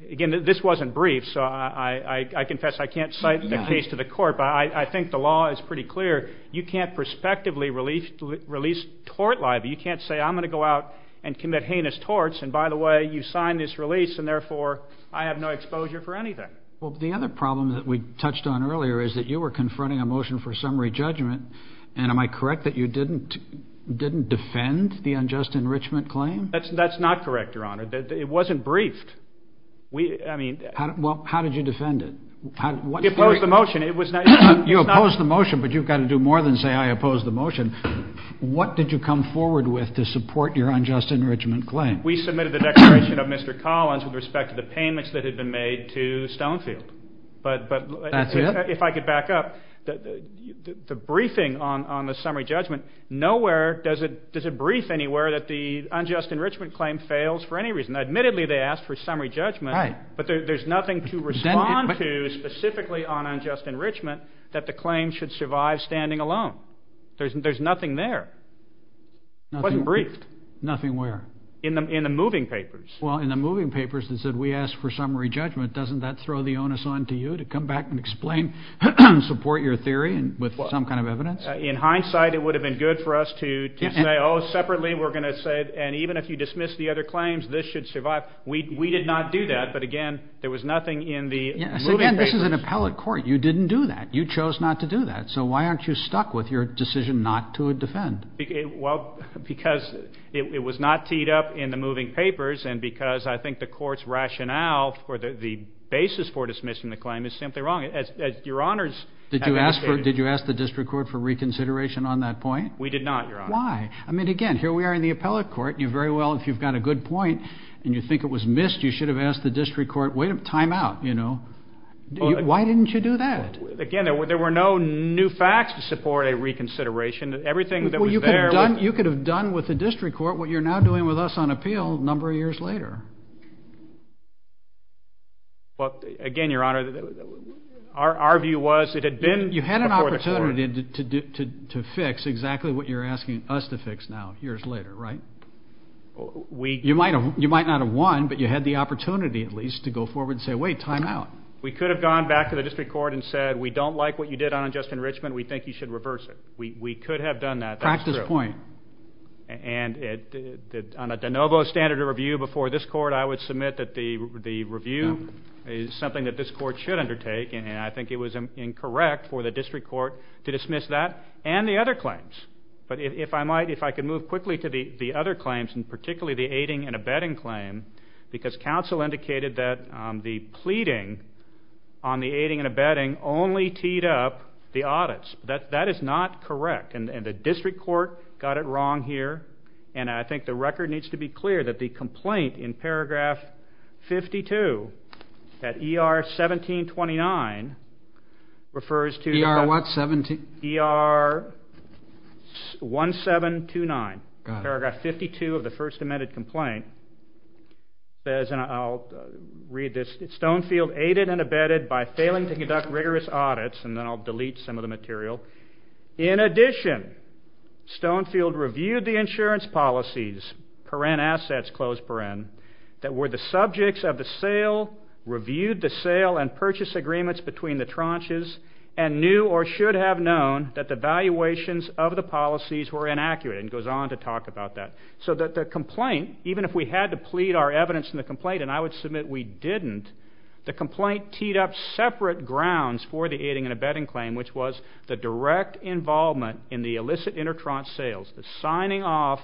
again, this wasn't brief, so I confess I can't cite the case to the court, but I think the law is pretty clear. You can't prospectively release tort liability. You can't say I'm going to go out and commit heinous torts, and by the way, you signed this release, and therefore I have no exposure for anything. Well, the other problem that we touched on earlier is that you were confronting a motion for summary judgment, and am I correct that you didn't defend the unjust enrichment claim? That's not correct, Your Honor. It wasn't briefed. Well, how did you defend it? You opposed the motion, but you've got to do more than say I opposed the motion. What did you come forward with to support your unjust enrichment claim? We submitted the declaration of Mr. Collins with respect to the payments that had been made to Stonefield. That's it? If I could back up, the briefing on the summary judgment, nowhere does it brief anywhere that the unjust enrichment claim fails for any reason. Admittedly, they asked for summary judgment, but there's nothing to respond to specifically on unjust enrichment that the claim should survive standing alone. There's nothing there. It wasn't briefed. Nothing where? In the moving papers. Well, in the moving papers that said we asked for summary judgment, doesn't that throw the onus on to you to come back and explain, support your theory with some kind of evidence? In hindsight, it would have been good for us to say, oh, separately we're going to say, and even if you dismiss the other claims, this should survive. We did not do that. But, again, there was nothing in the moving papers. Again, this is an appellate court. You didn't do that. You chose not to do that. So why aren't you stuck with your decision not to defend? Well, because it was not teed up in the moving papers, and because I think the court's rationale for the basis for dismissing the claim is simply wrong. Did you ask the district court for reconsideration on that point? We did not, Your Honor. Why? I mean, again, here we are in the appellate court, and you very well, if you've got a good point, and you think it was missed, you should have asked the district court, wait a timeout, you know. Why didn't you do that? Again, there were no new facts to support a reconsideration. Everything that was there was... Well, you could have done with the district court what you're now doing with us on appeal a number of years later. Well, again, Your Honor, our view was it had been... You had an opportunity to fix exactly what you're asking us to fix now, years later, right? You might not have won, but you had the opportunity at least to go forward and say, wait, timeout. We could have gone back to the district court and said, we don't like what you did on unjust enrichment, we think you should reverse it. We could have done that. Practice point. And on a de novo standard of review before this court, I would submit that the review is something that this court should undertake, and I think it was incorrect for the district court to dismiss that and the other claims. But if I might, if I could move quickly to the other claims, and particularly the aiding and abetting claim, because counsel indicated that the pleading on the aiding and abetting only teed up the audits. That is not correct, and the district court got it wrong here, and I think the record needs to be clear that the complaint in paragraph 52 at ER 1729 refers to... ER what, 17? ER 1729. Paragraph 52 of the first amended complaint says, and I'll read this, Stonefield aided and abetted by failing to conduct rigorous audits, and then I'll delete some of the material. In addition, Stonefield reviewed the insurance policies, paren assets, close paren, that were the subjects of the sale, reviewed the sale and purchase agreements between the tranches, and knew or should have known that the valuations of the policies were inaccurate, and goes on to talk about that. So that the complaint, even if we had to plead our evidence in the complaint, and I would submit we didn't, the complaint teed up separate grounds for the aiding and abetting claim, which was the direct involvement in the illicit intertranche sales, the signing off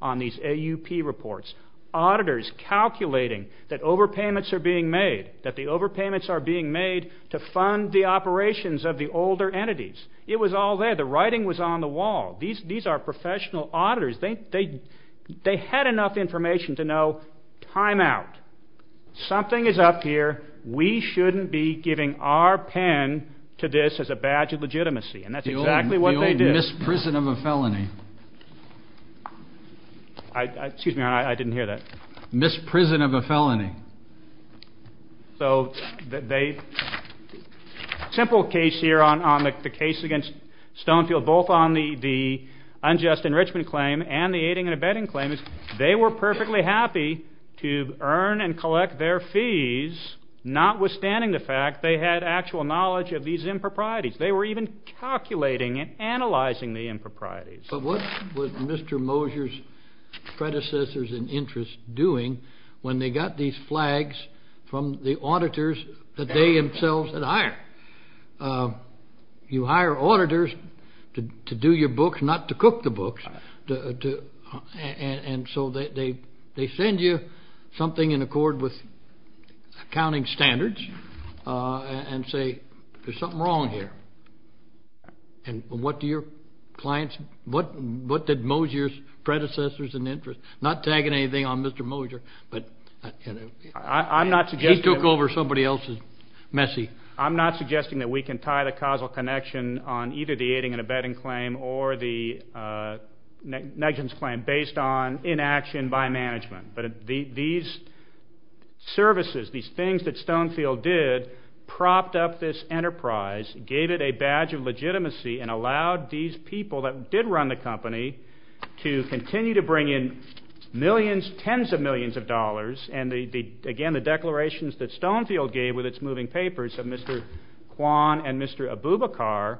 on these AUP reports, auditors calculating that overpayments are being made, that the overpayments are being made to fund the operations of the older entities. It was all there. The writing was on the wall. These are professional auditors. They had enough information to know time out. Something is up here. We shouldn't be giving our pen to this as a badge of legitimacy, and that's exactly what they did. The old misprison of a felony. Excuse me, I didn't hear that. Misprison of a felony. Simple case here on the case against Stonefield, both on the unjust enrichment claim and the aiding and abetting claims. They were perfectly happy to earn and collect their fees, notwithstanding the fact they had actual knowledge of these improprieties. They were even calculating and analyzing the improprieties. But what was Mr. Mosier's predecessors in interest doing when they got these flags from the auditors that they themselves had hired? You hire auditors to do your books, not to cook the books. And so they send you something in accord with accounting standards and say there's something wrong here. And what did Mosier's predecessors in interest, not tagging anything on Mr. Mosier, but he took over somebody else's messy. And I'm not suggesting that we can tie the causal connection on either the aiding and abetting claim or the negligence claim based on inaction by management. But these services, these things that Stonefield did, propped up this enterprise, gave it a badge of legitimacy, and allowed these people that did run the company to continue to bring in millions, tens of millions of dollars. And again, the declarations that Stonefield gave with its moving papers of Mr. Kwan and Mr. Abubakar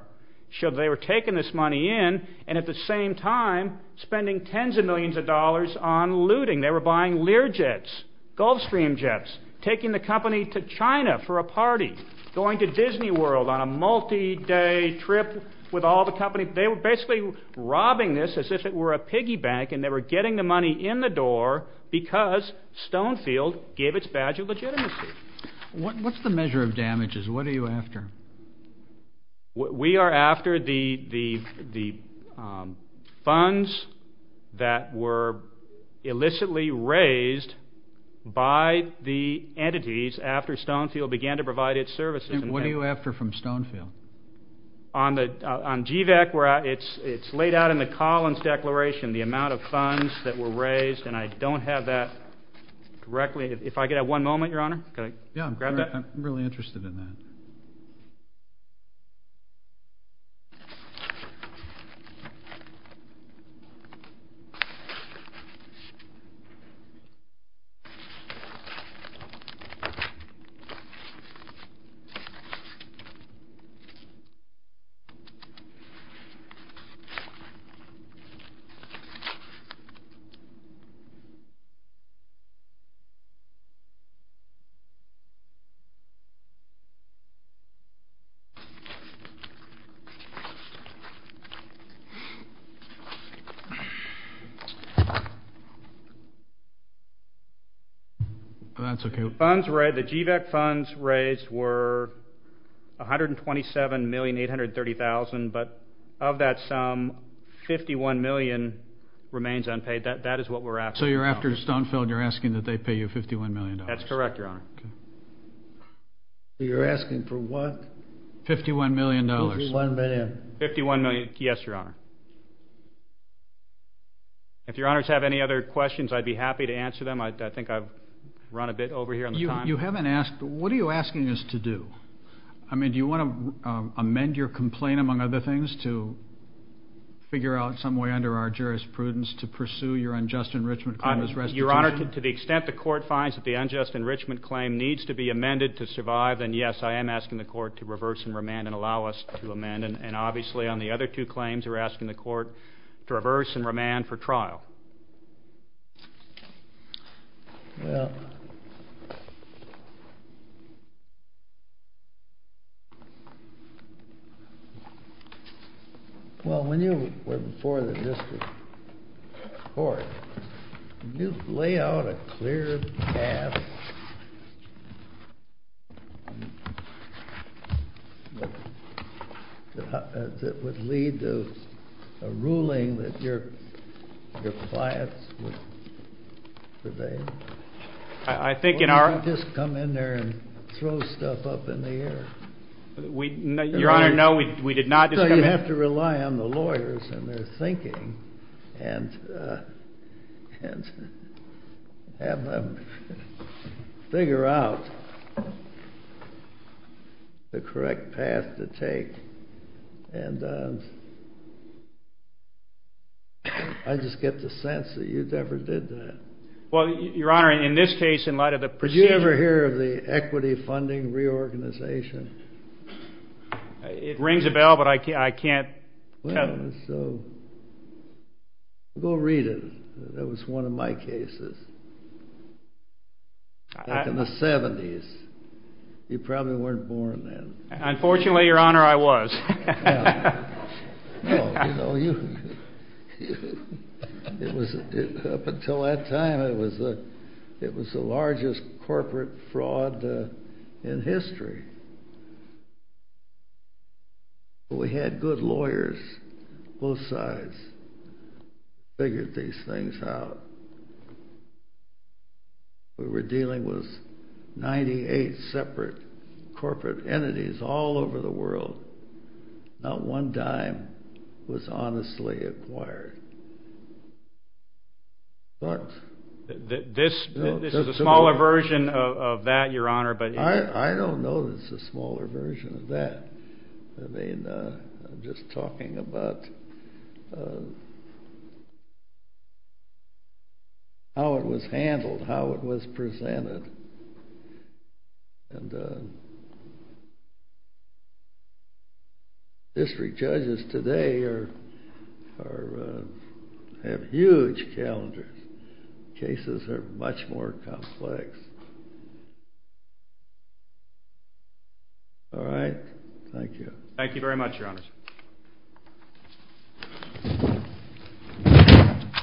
showed they were taking this money in and at the same time spending tens of millions of dollars on looting. They were buying Learjets, Gulfstream jets, taking the company to China for a party, going to Disney World on a multi-day trip with all the company. They were basically robbing this as if it were a piggy bank, and they were getting the money in the door because Stonefield gave its badge of legitimacy. What's the measure of damages? What are you after? We are after the funds that were illicitly raised by the entities after Stonefield began to provide its services. And what are you after from Stonefield? On GVAC, it's laid out in the Collins Declaration, the amount of funds that were raised, and I don't have that directly. If I could have one moment, Your Honor? Yeah, I'm really interested in that. That's okay. The funds raised, the GVAC funds raised were $127,830,000, but of that sum, $51 million remains unpaid. That is what we're after. So you're after Stonefield. You're asking that they pay you $51 million. That's correct, Your Honor. You're asking for what? $51 million. $51 million. $51 million, yes, Your Honor. If Your Honors have any other questions, I'd be happy to answer them. I think I've run a bit over here on the time. You haven't asked. What are you asking us to do? I mean, do you want to amend your complaint, among other things, to figure out some way under our jurisprudence to pursue your unjust enrichment claim as restitution? Your Honor, to the extent the court finds that the unjust enrichment claim needs to be amended to survive, then yes, I am asking the court to reverse and remand and allow us to amend. And obviously on the other two claims, you're asking the court to reverse and remand for trial. Well, when you were before the district court, did you lay out a clear path that would lead to a ruling that your clients would obey? I think in our— Or did you just come in there and throw stuff up in the air? Your Honor, no, we did not just come in— You have to rely on the lawyers and their thinking and have them figure out the correct path to take. And I just get the sense that you never did that. Well, Your Honor, in this case, in light of the procedure— Did you ever hear of the equity funding reorganization? It rings a bell, but I can't tell you. Well, so go read it. That was one of my cases back in the 70s. You probably weren't born then. Unfortunately, Your Honor, I was. No, you know, up until that time, it was the largest corporate fraud in history. We had good lawyers, both sides, figured these things out. We were dealing with 98 separate corporate entities all over the world. Not one dime was honestly acquired. This is a smaller version of that, Your Honor, but— I don't know that it's a smaller version of that. I mean, I'm just talking about how it was handled, how it was presented. And district judges today have huge calendars. Cases are much more complex. All right? Thank you. Thank you very much, Your Honor.